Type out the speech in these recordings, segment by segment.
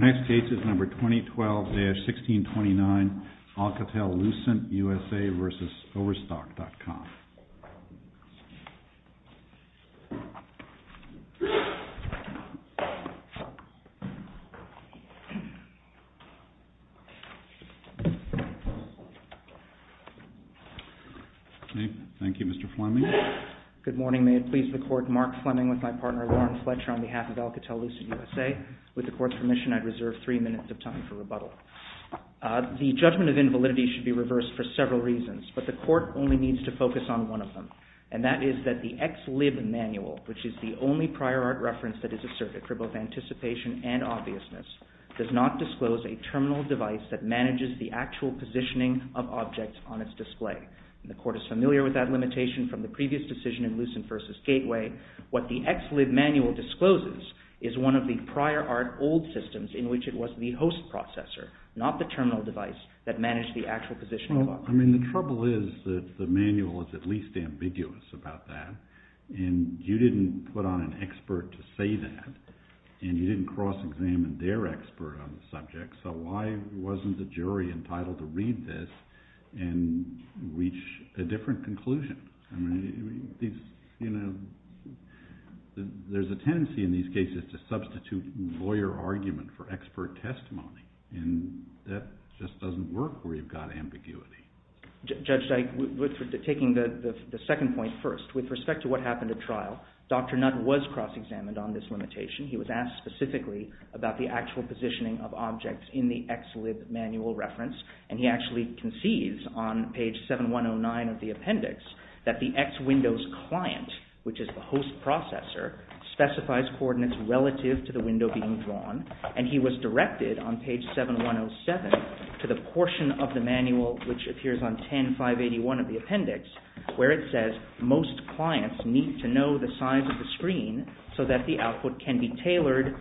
Overstock.com Overstock.com Our next case is number 2012-1629 Alcatel-Lucent, USA versus Overstock.com Thank you, Mr. Fleming. Good morning. May it please the Court, Mark Fleming with my partner, Lauren Fletcher, on behalf of Alcatel-Lucent, USA. With the Court's permission, I reserve three minutes of time for rebuttal. The judgment of invalidity should be reversed for several reasons, but the Court only needs to focus on one of them, and that is that the XLIB manual, which is the only prior art reference that is asserted for both anticipation and obviousness, does not disclose a terminal device that manages the actual positioning of objects on its display. The Court is familiar with that limitation from the previous decision in Lucent versus Gateway. What the XLIB manual discloses is one of the prior art old systems in which it was the host processor, not the terminal device, that managed the actual positioning of objects. Well, I mean, the trouble is that the manual is at least ambiguous about that, and you didn't put on an expert to say that, and you didn't cross-examine their expert on the subject, so why wasn't the jury entitled to read this and reach a different conclusion? I mean, there's a tendency in these cases to substitute lawyer argument for expert testimony, and that just doesn't work where you've got ambiguity. Judge Dyke, taking the second point first, with respect to what happened at trial, Dr. Nutt was cross-examined on this limitation. He was asked specifically about the actual positioning of objects in the XLIB manual reference, and he actually concedes on page 7109 of the appendix that the X Windows client, which is the host processor, specifies coordinates relative to the window being drawn, and he was directed on page 7107 to the portion of the manual, which appears on 10581 of the appendix, where it says most clients need to know the size of the screen so that the output can be tailored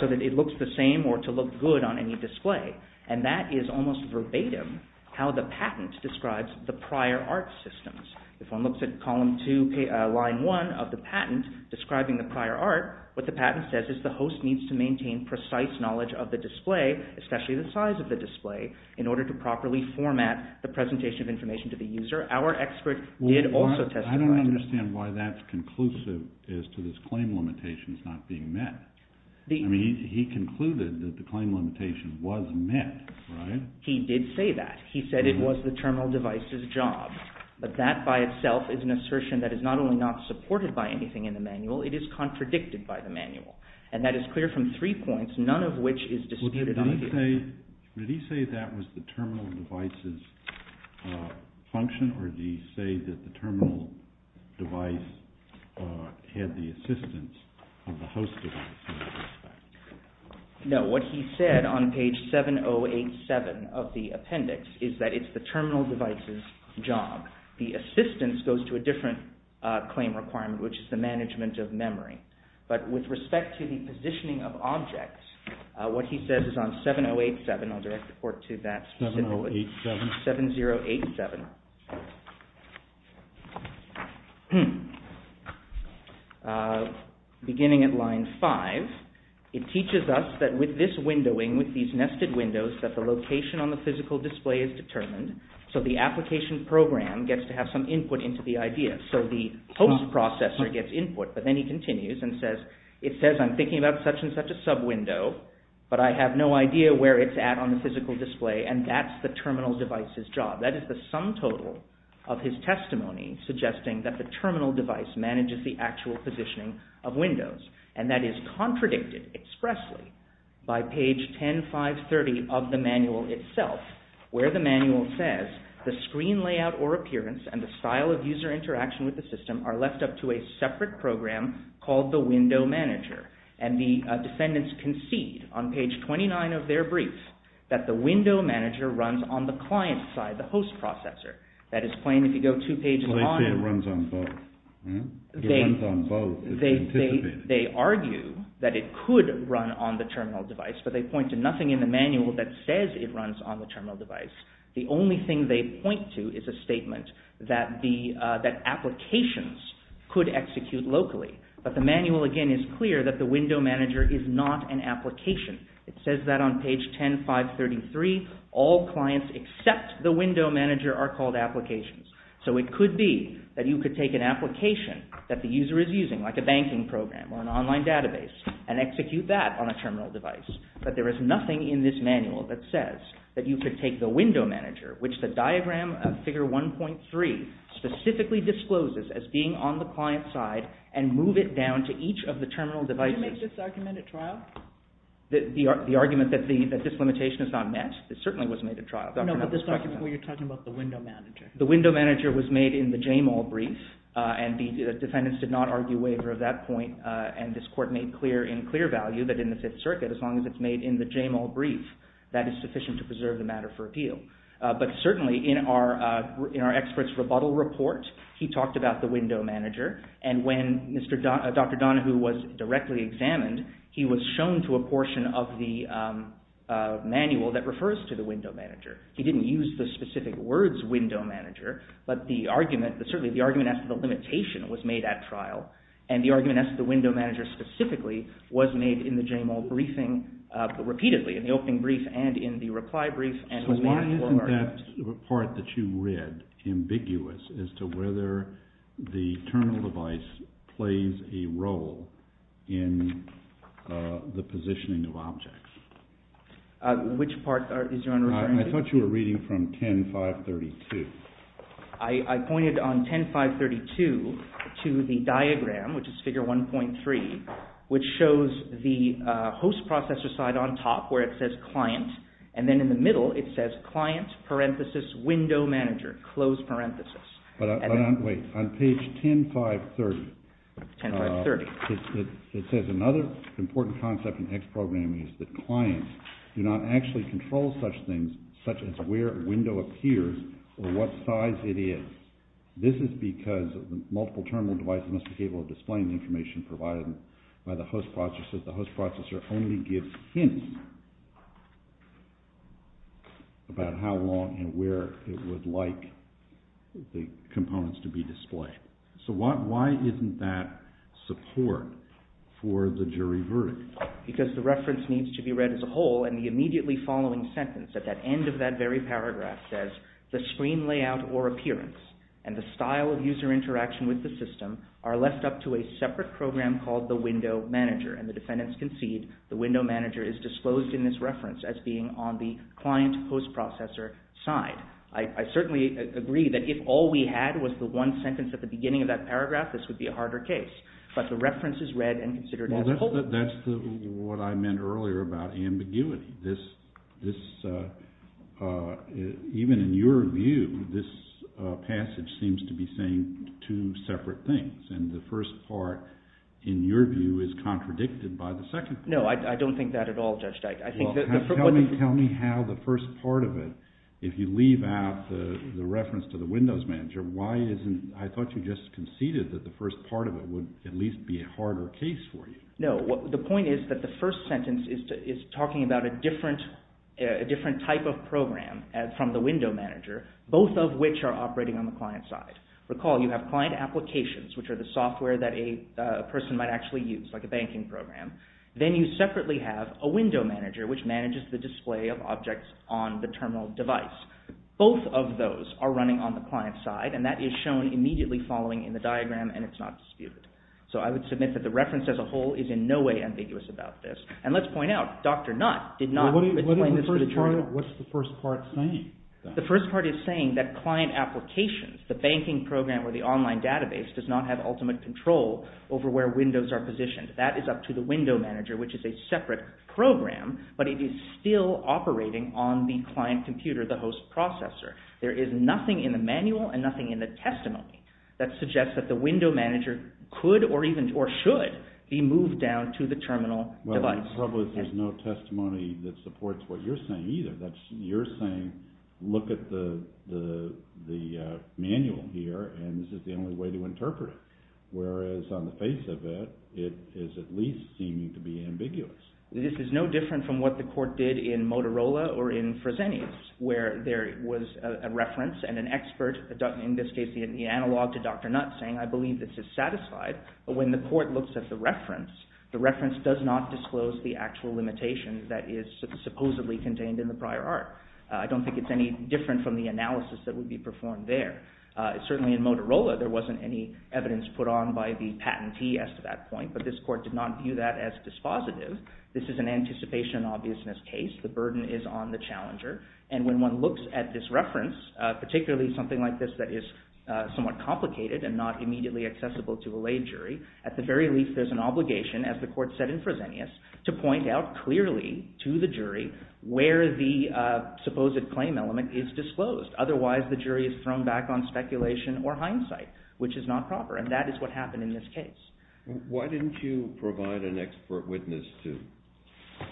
so that it looks the same or to look good on any display, and that is almost verbatim how the patent describes the prior art systems. If one looks at column 2, line 1 of the patent describing the prior art, what the patent says is the host needs to maintain precise knowledge of the display, especially the size of the display, in order to properly format the presentation of information to the user. Our expert did also testify to that. I don't understand why that's conclusive as to this claim limitation not being met. I mean, he concluded that the claim limitation was met, right? He did say that. He said it was the terminal device's job, but that by itself is an assertion that is not only not supported by anything in the manual, it is contradicted by the manual, and that is clear from three points, none of which is disputed on here. Did he say that was the terminal device's function, or did he say that the terminal device had the assistance of the host device in that respect? No, what he said on page 7087 of the appendix is that it's the terminal device's job. The assistance goes to a different claim requirement, which is the management of memory. But with respect to the positioning of objects, what he says is on 7087. I'll direct the report to that specifically. 7087. 7087. Beginning at line 5, it teaches us that with this windowing, with these nested windows, that the location on the physical display is determined, so the application program gets to have some input into the idea. So the host processor gets input, but then he continues and says, it says I'm thinking about such and such a sub-window, but I have no idea where it's at on the physical display, and that's the terminal device's job. That is the sum total of his testimony suggesting that the terminal device manages the actual positioning of windows, and that is contradicted expressly by page 10530 of the manual itself, where the manual says the screen layout or appearance and the style of user interaction with the system are left up to a separate program called the window manager, and the defendants concede on page 29 of their brief that the window manager runs on the client side, the host processor. That is plain if you go two pages on. It runs on both. It runs on both. They argue that it could run on the terminal device, but they point to nothing in the manual that says it runs on the terminal device. The only thing they point to is a statement that applications could execute locally, but the manual again is clear that the window manager is not an application. It says that on page 10533. All clients except the window manager are called applications. So it could be that you could take an application that the user is using, like a banking program or an online database, and execute that on a terminal device, but there is nothing in this manual that says that you could take the window manager, which the diagram of figure 1.3 specifically discloses as being on the client side and move it down to each of the terminal devices. Can you make this argument at trial? The argument that this limitation is not met certainly was made at trial. No, but this argument where you're talking about the window manager. The window manager was made in the Jamal brief, and the defendants did not argue waiver of that point, and this court made clear in clear value that in the Fifth Circuit, as long as it's made in the Jamal brief, that is sufficient to preserve the matter for appeal. But certainly in our expert's rebuttal report, he talked about the window manager, and when Dr. Donahue was directly examined, he was shown to a portion of the manual that refers to the window manager. He didn't use the specific words window manager, but certainly the argument as to the limitation was made at trial, and the argument as to the window manager specifically was made in the Jamal briefing repeatedly, in the opening brief and in the reply brief. So why isn't that part that you read ambiguous as to whether the terminal device plays a role in the positioning of objects? Which part are you referring to? I thought you were reading from 10-532. I pointed on 10-532 to the diagram, which is figure 1.3, which shows the host processor side on top where it says client, and then in the middle it says client, parenthesis, window manager, close parenthesis. But wait, on page 10-530, it says another important concept in X programming is that clients do not actually control such things such as where a window appears or what size it is. This is because multiple terminal devices must be able to display the information provided by the host processor. The host processor only gives hints about how long and where it would like the components to be displayed. So why isn't that support for the jury verdict? Because the reference needs to be read as a whole, and the immediately following sentence at the end of that very paragraph says the screen layout or appearance and the style of user interaction with the system are left up to a separate program called the window manager, and the defendants concede the window manager is disclosed in this reference as being on the client host processor side. I certainly agree that if all we had was the one sentence at the beginning of that paragraph, this would be a harder case. But the reference is read and considered as a whole. That's what I meant earlier about ambiguity. Even in your view, this passage seems to be saying two separate things, and the first part, in your view, is contradicted by the second part. No, I don't think that at all, Judge Dyke. Tell me how the first part of it, if you leave out the reference to the windows manager, I thought you just conceded that the first part of it would at least be a harder case for you. No, the point is that the first sentence is talking about a different type of program from the window manager, both of which are operating on the client side. Recall, you have client applications, which are the software that a person might actually use, like a banking program. Then you separately have a window manager, which manages the display of objects on the terminal device. Both of those are running on the client side, and that is shown immediately following in the diagram, and it's not disputed. So I would submit that the reference as a whole is in no way ambiguous about this. And let's point out, Dr. Nutt did not explain this to the jury. What's the first part saying? The first part is saying that client applications, the banking program or the online database, does not have ultimate control over where windows are positioned. That is up to the window manager, which is a separate program, but it is still operating on the client computer, the host processor. There is nothing in the manual and nothing in the testimony that suggests that the window manager could or should be moved down to the terminal device. The problem is there's no testimony that supports what you're saying either. You're saying, look at the manual here, and this is the only way to interpret it. Whereas on the face of it, it is at least seeming to be ambiguous. This is no different from what the court did in Motorola or in Fresenius, where there was a reference and an expert, in this case the analog to Dr. Nutt, saying, I believe this is satisfied. But when the court looks at the reference, the reference does not disclose the actual limitation that is supposedly contained in the prior art. I don't think it's any different from the analysis that would be performed there. Certainly in Motorola, there wasn't any evidence put on by the patentee as to that point, but this court did not view that as dispositive. This is an anticipation-obviousness case. The burden is on the challenger. And when one looks at this reference, particularly something like this that is somewhat complicated and not immediately accessible to a lay jury, at the very least there's an obligation, as the court said in Fresenius, to point out clearly to the jury where the supposed claim element is disclosed. Otherwise, the jury is thrown back on speculation or hindsight, which is not proper. And that is what happened in this case. Why didn't you provide an expert witness to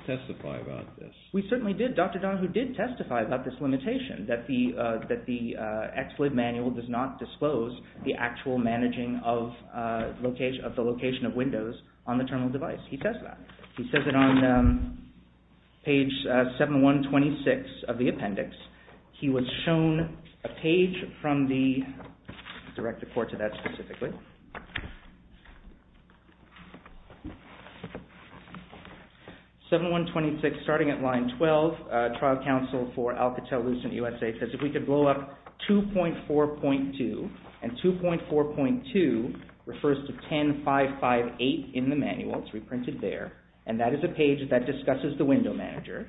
testify about this? We certainly did. Dr. Donahue did testify about this limitation, that the exploit manual does not disclose the actual managing of the location of Windows on the terminal device. He says that. He says it on page 7126 of the appendix. He was shown a page from the direct report to that specifically. 7126, starting at line 12, trial counsel for Alcatel-Lucent USA, says if we could blow up 2.4.2, and 2.4.2 refers to 10558 in the manual. It's reprinted there. And that is a page that discusses the window manager.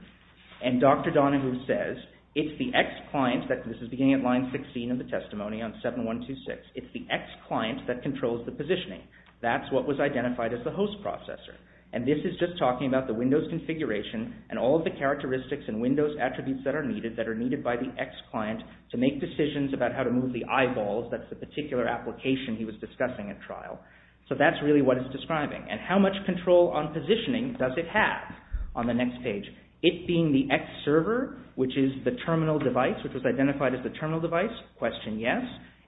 And Dr. Donahue says it's the ex-client, this is beginning at line 16 of the testimony on 7126, it's the ex-client that controls the positioning. That's what was identified as the host processor. And this is just talking about the Windows configuration and all of the characteristics and Windows attributes that are needed, that are needed by the ex-client to make decisions about how to move the eyeballs, that's the particular application he was discussing at trial. So that's really what it's describing. And how much control on positioning does it have on the next page? It being the ex-server, which is the terminal device, which was identified as the terminal device, question yes.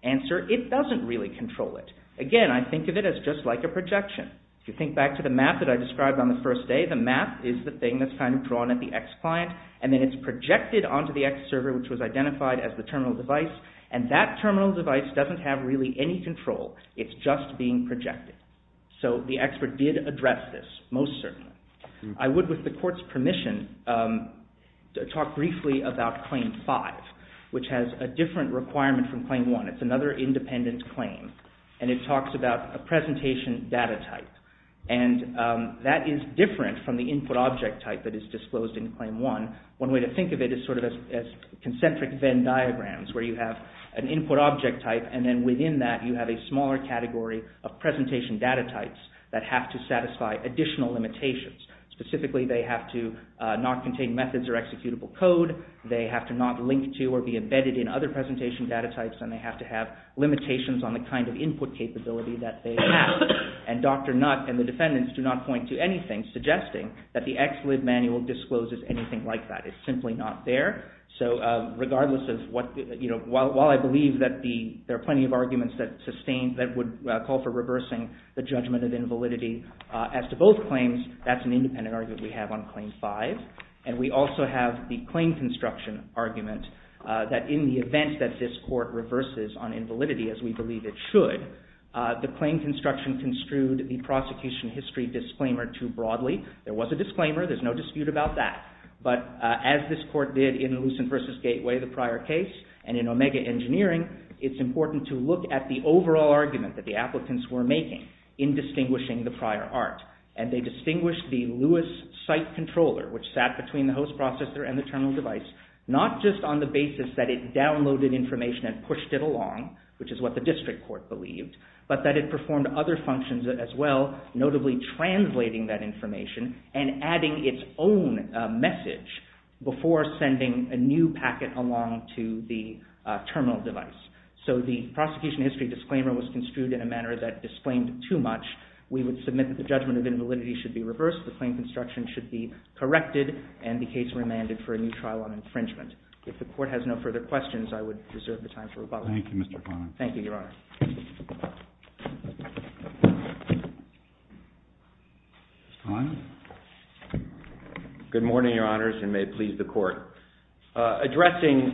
Answer, it doesn't really control it. Again, I think of it as just like a projection. If you think back to the map that I described on the first day, the map is the thing that's kind of drawn at the ex-client, and then it's projected onto the ex-server, which was identified as the terminal device, and that terminal device doesn't have really any control. It's just being projected. So the expert did address this, most certainly. I would, with the court's permission, talk briefly about Claim 5, which has a different requirement from Claim 1. It's another independent claim, and it talks about a presentation data type, and that is different from the input object type that is disclosed in Claim 1. One way to think of it is sort of as concentric Venn diagrams, where you have an input object type, and then within that you have a smaller category of presentation data types that have to satisfy additional limitations. Specifically, they have to not contain methods or executable code, they have to not link to or be embedded in other presentation data types, and they have to have limitations on the kind of input capability that they have. And Dr. Nutt and the defendants do not point to anything suggesting that the ex-lib manual discloses anything like that. It's simply not there. So, regardless of what, you know, while I believe that there are plenty of arguments that sustain, that would call for reversing the judgment of invalidity, as to both claims, that's an independent argument we have on Claim 5. And we also have the claim construction argument that in the event that this court reverses on invalidity, as we believe it should, the claim construction construed the prosecution history disclaimer too broadly. There was a disclaimer, there's no dispute about that. But as this court did in Lucent v. Gateway, the prior case, and in Omega Engineering, it's important to look at the overall argument that the applicants were making in distinguishing the prior art. And they distinguished the Lewis site controller, which sat between the host processor and the terminal device, not just on the basis that it downloaded information and pushed it along, which is what the district court believed, but that it performed other functions as well, notably translating that information and adding its own message before sending a new packet along to the terminal device. So the prosecution history disclaimer was construed in a manner that disclaimed too much. We would submit that the judgment of invalidity should be reversed, the claim construction should be corrected, and the case remanded for a new trial on infringement. If the court has no further questions, I would reserve the time for rebuttal. Thank you, Mr. Klein. Thank you, Your Honor. Mr. Klein? Good morning, Your Honors, and may it please the Court. Addressing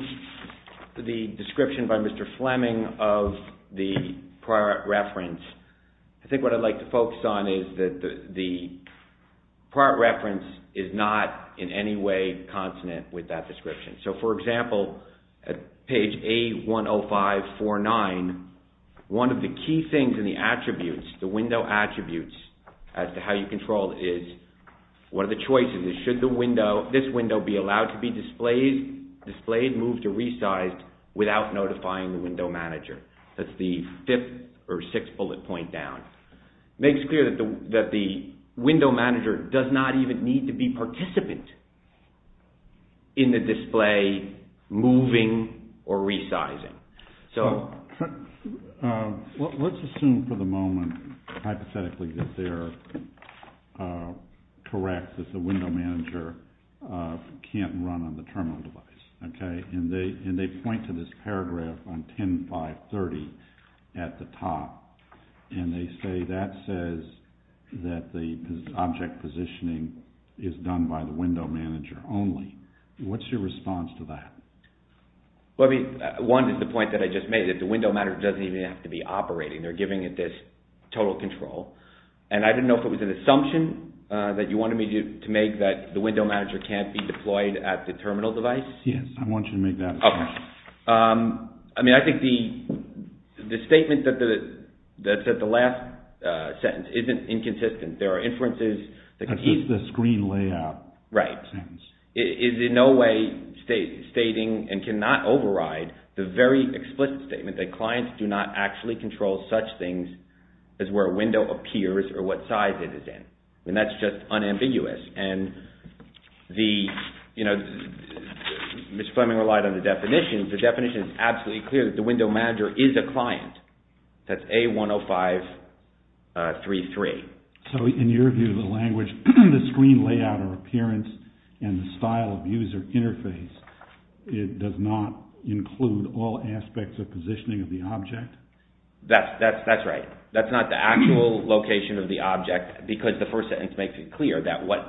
the description by Mr. Fleming of the prior art reference, I think what I'd like to focus on is that the prior art reference is not in any way consonant with that description. So, for example, at page A10549, one of the key things in the attributes, the window attributes, as to how you control it is, one of the choices is, should this window be allowed to be displayed, moved, or resized without notifying the window manager? That's the fifth or sixth bullet point down. It makes clear that the window manager does not even need to be participant in the display, moving, or resizing. Let's assume for the moment, hypothetically, that they're correct, that the window manager can't run on the terminal device. And they point to this paragraph on 10530 at the top, and they say that says that the object positioning is done by the window manager only. What's your response to that? Well, I mean, one is the point that I just made, that the window manager doesn't even have to be operating. They're giving it this total control. And I don't know if it was an assumption that you wanted me to make that the window manager can't be deployed at the terminal device? Yes, I want you to make that assumption. Okay. I mean, I think the statement that's at the last sentence isn't inconsistent. There are inferences. That's just the screen layout. Right. It is in no way stating, and cannot override, the very explicit statement that clients do not actually control such things as where a window appears or what size it is in. I mean, that's just unambiguous. And the, you know, Ms. Fleming relied on the definition. The definition is absolutely clear that the window manager is a client. That's A10533. So in your view of the language, the screen layout or appearance and the style of user interface, it does not include all aspects of positioning of the object? That's right. That's not the actual location of the object, because the first sentence makes it clear that what,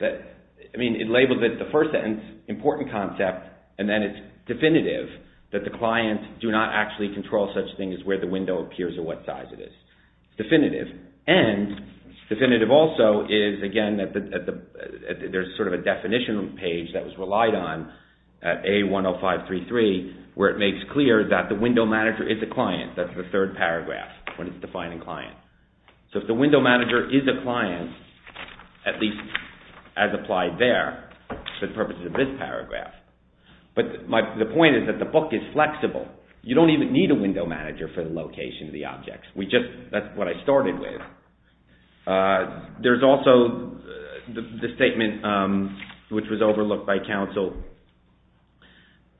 I mean, it labels it the first sentence, important concept, and then it's definitive that the client do not actually control such things as where the window appears or what size it is. Definitive. And definitive also is, again, there's sort of a definition page that was relied on at A10533 where it makes clear that the window manager is a client. That's the third paragraph when it's defining client. So if the window manager is a client, at least as applied there, for the purposes of this paragraph. But the point is that the book is flexible. You don't even need a window manager for the location of the objects. That's what I started with. There's also the statement which was overlooked by counsel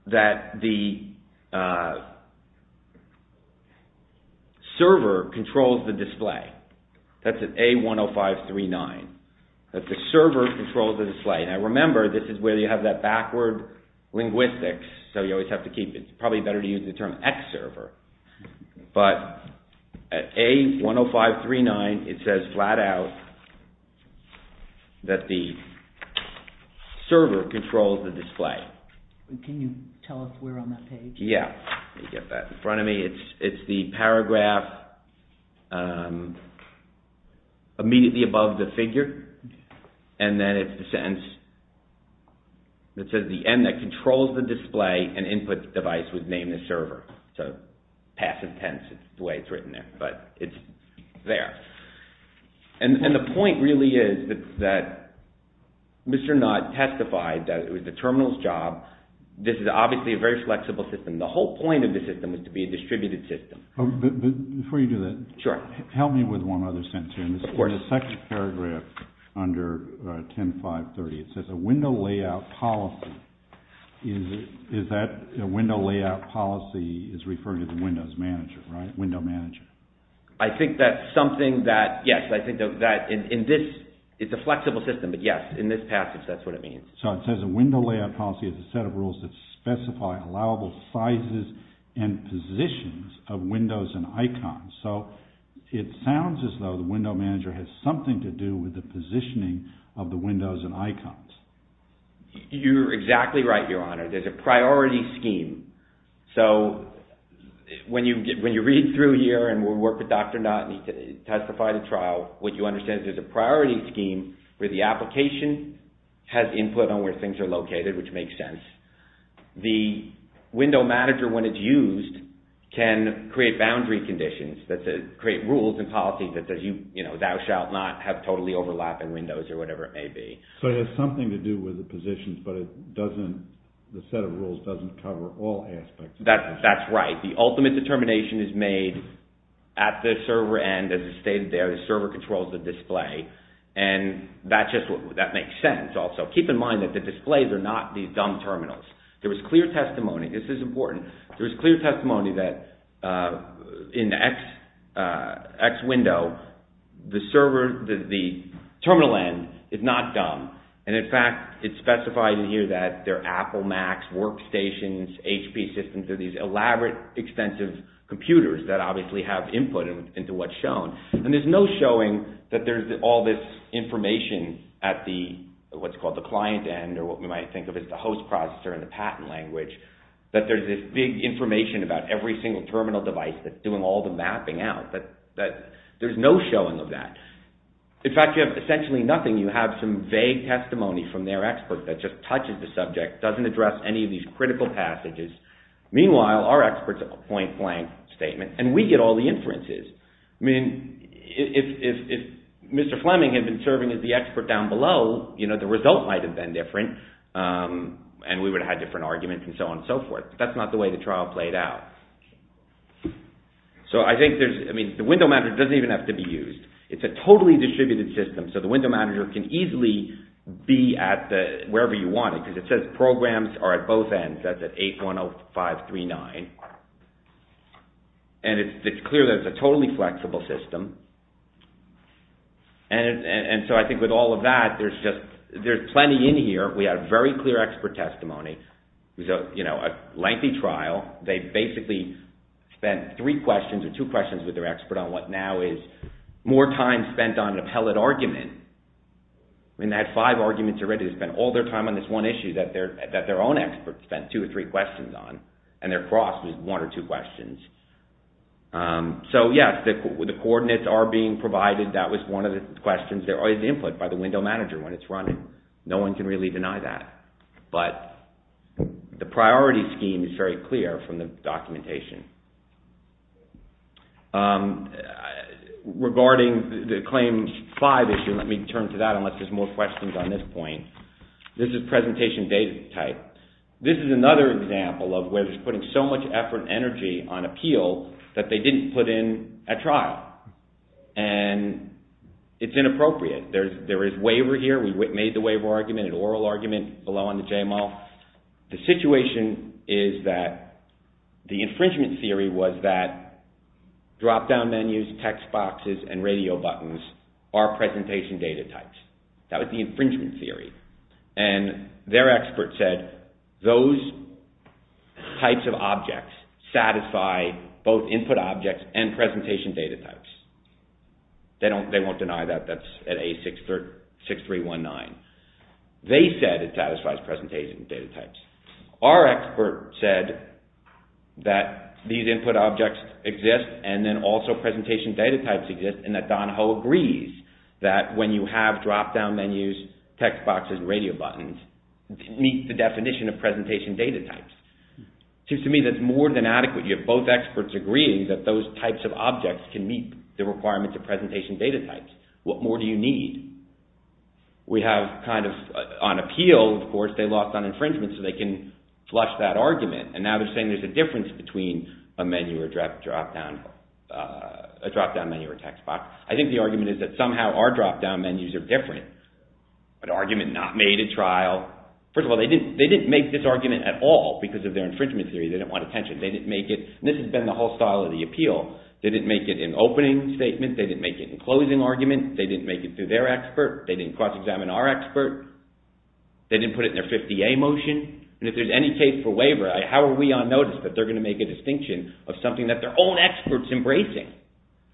that the server controls the display. That's at A10539. That the server controls the display. Now remember, this is where you have that backward linguistics, so you always have to keep it. It's probably better to use the term X server. But at A10539, it says flat out that the server controls the display. Can you tell us where on that page? Yeah. You get that in front of me. It's the paragraph immediately above the figure. And then it's the sentence that says the end that controls the display and input device would name the server. Passive tense is the way it's written there. But it's there. And the point really is that Mr. Knott testified that it was the terminal's job. This is obviously a very flexible system. The whole point of the system is to be a distributed system. Before you do that, help me with one other sentence here. Of course. In the second paragraph under 10530, it says a window layout policy. Is that a window layout policy is referred to the windows manager, right? Window manager. I think that's something that, yes, I think that in this, it's a flexible system. But, yes, in this passage, that's what it means. So it says a window layout policy is a set of rules that specify allowable sizes and positions of windows and icons. So it sounds as though the window manager has something to do with the positioning of the windows and icons. You're exactly right, Your Honor. There's a priority scheme. So when you read through here and we'll work with Dr. Knott and he testified at trial, what you understand is there's a priority scheme where the application has input on where things are located, which makes sense. The window manager, when it's used, can create boundary conditions, create rules and policies that says, you know, thou shalt not have totally overlapping windows or whatever it may be. So it has something to do with the positions, but it doesn't, the set of rules doesn't cover all aspects. That's right. The ultimate determination is made at the server end, as it's stated there. The server controls the display. And that just, that makes sense also. Keep in mind that the displays are not these dumb terminals. There was clear testimony, this is important. There was clear testimony that in the X window, the terminal end is not dumb. And in fact, it's specified in here that they're Apple Macs, workstations, HP systems are these elaborate, extensive computers that obviously have input into what's shown. And there's no showing that there's all this information at the, what's called the client end or what we might think of as the host processor in the patent language, that there's this big information about every single terminal device that's doing all the mapping out, that there's no showing of that. In fact, you have essentially nothing. You have some vague testimony from their expert that just touches the subject, doesn't address any of these critical passages. Meanwhile, our experts have a point blank statement, and we get all the inferences. I mean, if Mr. Fleming had been serving as the expert down below, you know, the result might have been different, and we would have had different arguments and so on and so forth. That's not the way the trial played out. So, I think there's, I mean, the window manager doesn't even have to be used. It's a totally distributed system. So, the window manager can easily be at wherever you want it, because it says programs are at both ends. That's at 810539. And it's clear that it's a totally flexible system. And so, I think with all of that, there's plenty in here. We have very clear expert testimony. So, you know, a lengthy trial. They basically spent three questions or two questions with their expert on what now is more time spent on an appellate argument. I mean, they had five arguments already. They spent all their time on this one issue that their own expert spent two or three questions on, and their cross was one or two questions. So, yes, the coordinates are being provided. That was one of the questions. There is input by the window manager when it's running. No one can really deny that. But the priority scheme is very clear from the documentation. Regarding the claims five issue, let me turn to that, unless there's more questions on this point. This is presentation data type. This is another example of where there's putting so much effort and energy on appeal that they didn't put in a trial. And it's inappropriate. There is waiver here. We made the waiver argument, an oral argument below on the JML. The situation is that the infringement theory was that drop-down menus, text boxes, and radio buttons are presentation data types. That was the infringement theory. And their expert said those types of objects satisfy both input objects and presentation data types. They won't deny that. That's at A6319. They said it satisfies presentation data types. Our expert said that these input objects exist and then also presentation data types exist and that Don Ho agrees that when you have drop-down menus, text boxes, and radio buttons, meet the definition of presentation data types. Seems to me that's more than adequate. You have both experts agreeing that those types of objects can meet the requirements of presentation data types. What more do you need? On appeal, of course, they lost on infringement so they can flush that argument. And now they're saying there's a difference between a menu or drop-down menu or text box. I think the argument is that somehow our drop-down menus are different. An argument not made at trial. First of all, they didn't make this argument at all because of their infringement theory. They didn't want attention. They didn't make it. This has been the whole style of the appeal. They didn't make it in opening statement. They didn't make it in closing argument. They didn't make it through their expert. They didn't cross-examine our expert. They didn't put it in their 50A motion. And if there's any case for waiver, how are we on notice that they're going to make a distinction of something that their own expert is embracing,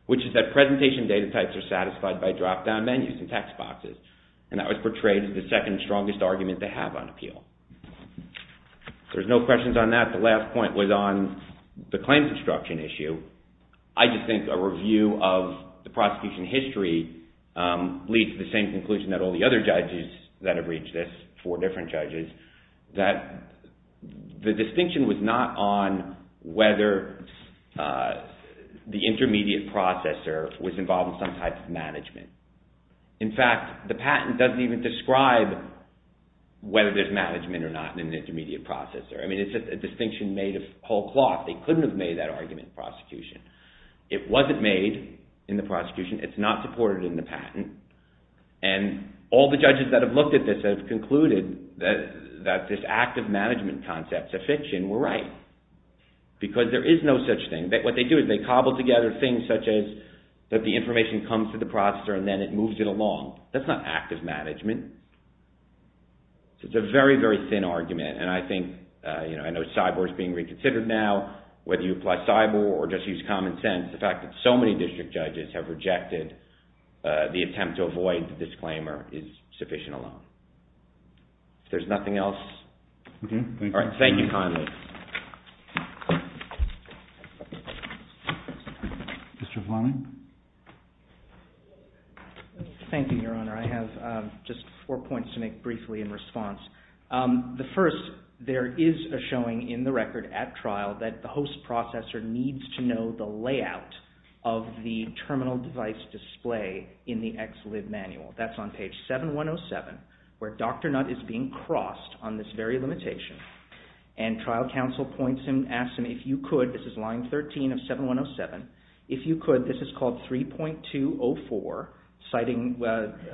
which is that presentation data types are satisfied by drop-down menus and text boxes. And that was portrayed as the second strongest argument they have on appeal. There's no questions on that. The last point was on the claims obstruction issue. I just think a review of the prosecution history leads to the same conclusion that all the other judges that have reached this, four different judges, that the distinction was not on whether the intermediate processor was involved in some type of management. In fact, the patent doesn't even describe whether there's management or not in an intermediate processor. I mean, it's just a distinction made of whole cloth. They couldn't have made that argument in prosecution. It wasn't made in the prosecution. It's not supported in the patent. And all the judges that have looked at this have concluded that this active management concept is a fiction. We're right. Because there is no such thing. What they do is they cobble together things such as that the information comes to the processor and then it moves it along. That's not active management. It's a very, very thin argument. And I think, you know, I know cyber is being reconsidered now, whether you apply cyber or just use common sense. The fact that so many district judges have rejected the attempt to avoid the disclaimer is sufficient alone. If there's nothing else. Okay. All right. Thank you kindly. Mr. Vlamin. Thank you, Your Honor. I have just four points to make briefly in response. The first, there is a showing in the record at trial that the host processor needs to know the layout of the terminal device display in the XLIB manual. That's on page 7107, where Dr. Nutt is being crossed on this very limitation. And trial counsel points him, asks him, if you could, this is line 13 of 7107, if you could, this is called 3.204. Citing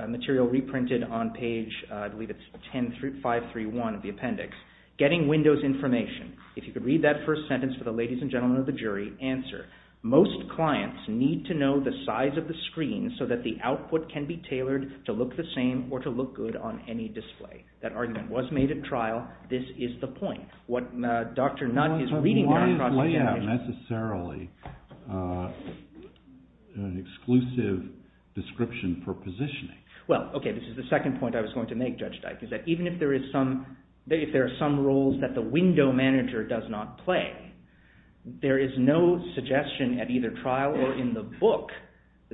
material reprinted on page, I believe it's 531 of the appendix. Getting Windows information. If you could read that first sentence for the ladies and gentlemen of the jury. Answer. Most clients need to know the size of the screen so that the output can be tailored to look the same or to look good on any display. That argument was made at trial. This is the point. Why is layout necessarily an exclusive description for positioning? Well, okay, this is the second point I was going to make, Judge Dike, is that even if there are some rules that the window manager does not play, there is no suggestion at either trial or in the book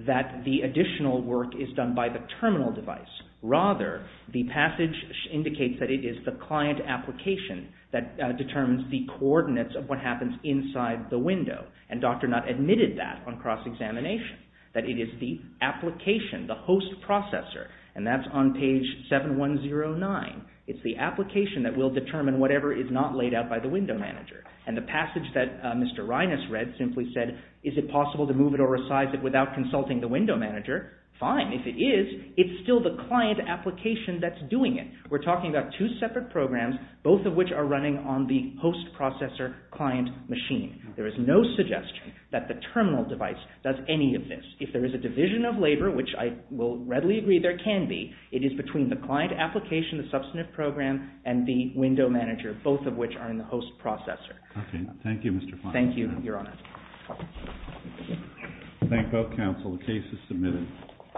that the additional work is done by the terminal device. Rather, the passage indicates that it is the client application that determines the coordinates of what happens inside the window. And Dr. Nutt admitted that on cross-examination, that it is the application, the host processor. And that's on page 7109. It's the application that will determine whatever is not laid out by the window manager. And the passage that Mr. Reines read simply said, is it possible to move it or resize it without consulting the window manager? Fine. If it is, it's still the client application that's doing it. We're talking about two separate programs, both of which are running on the host processor client machine. There is no suggestion that the terminal device does any of this. If there is a division of labor, which I will readily agree there can be, it is between the client application, the substantive program, and the window manager, both of which are in the host processor. Okay. Thank you, Mr. Fine. Thank you, Your Honor. Thank both counsel. The case is submitted.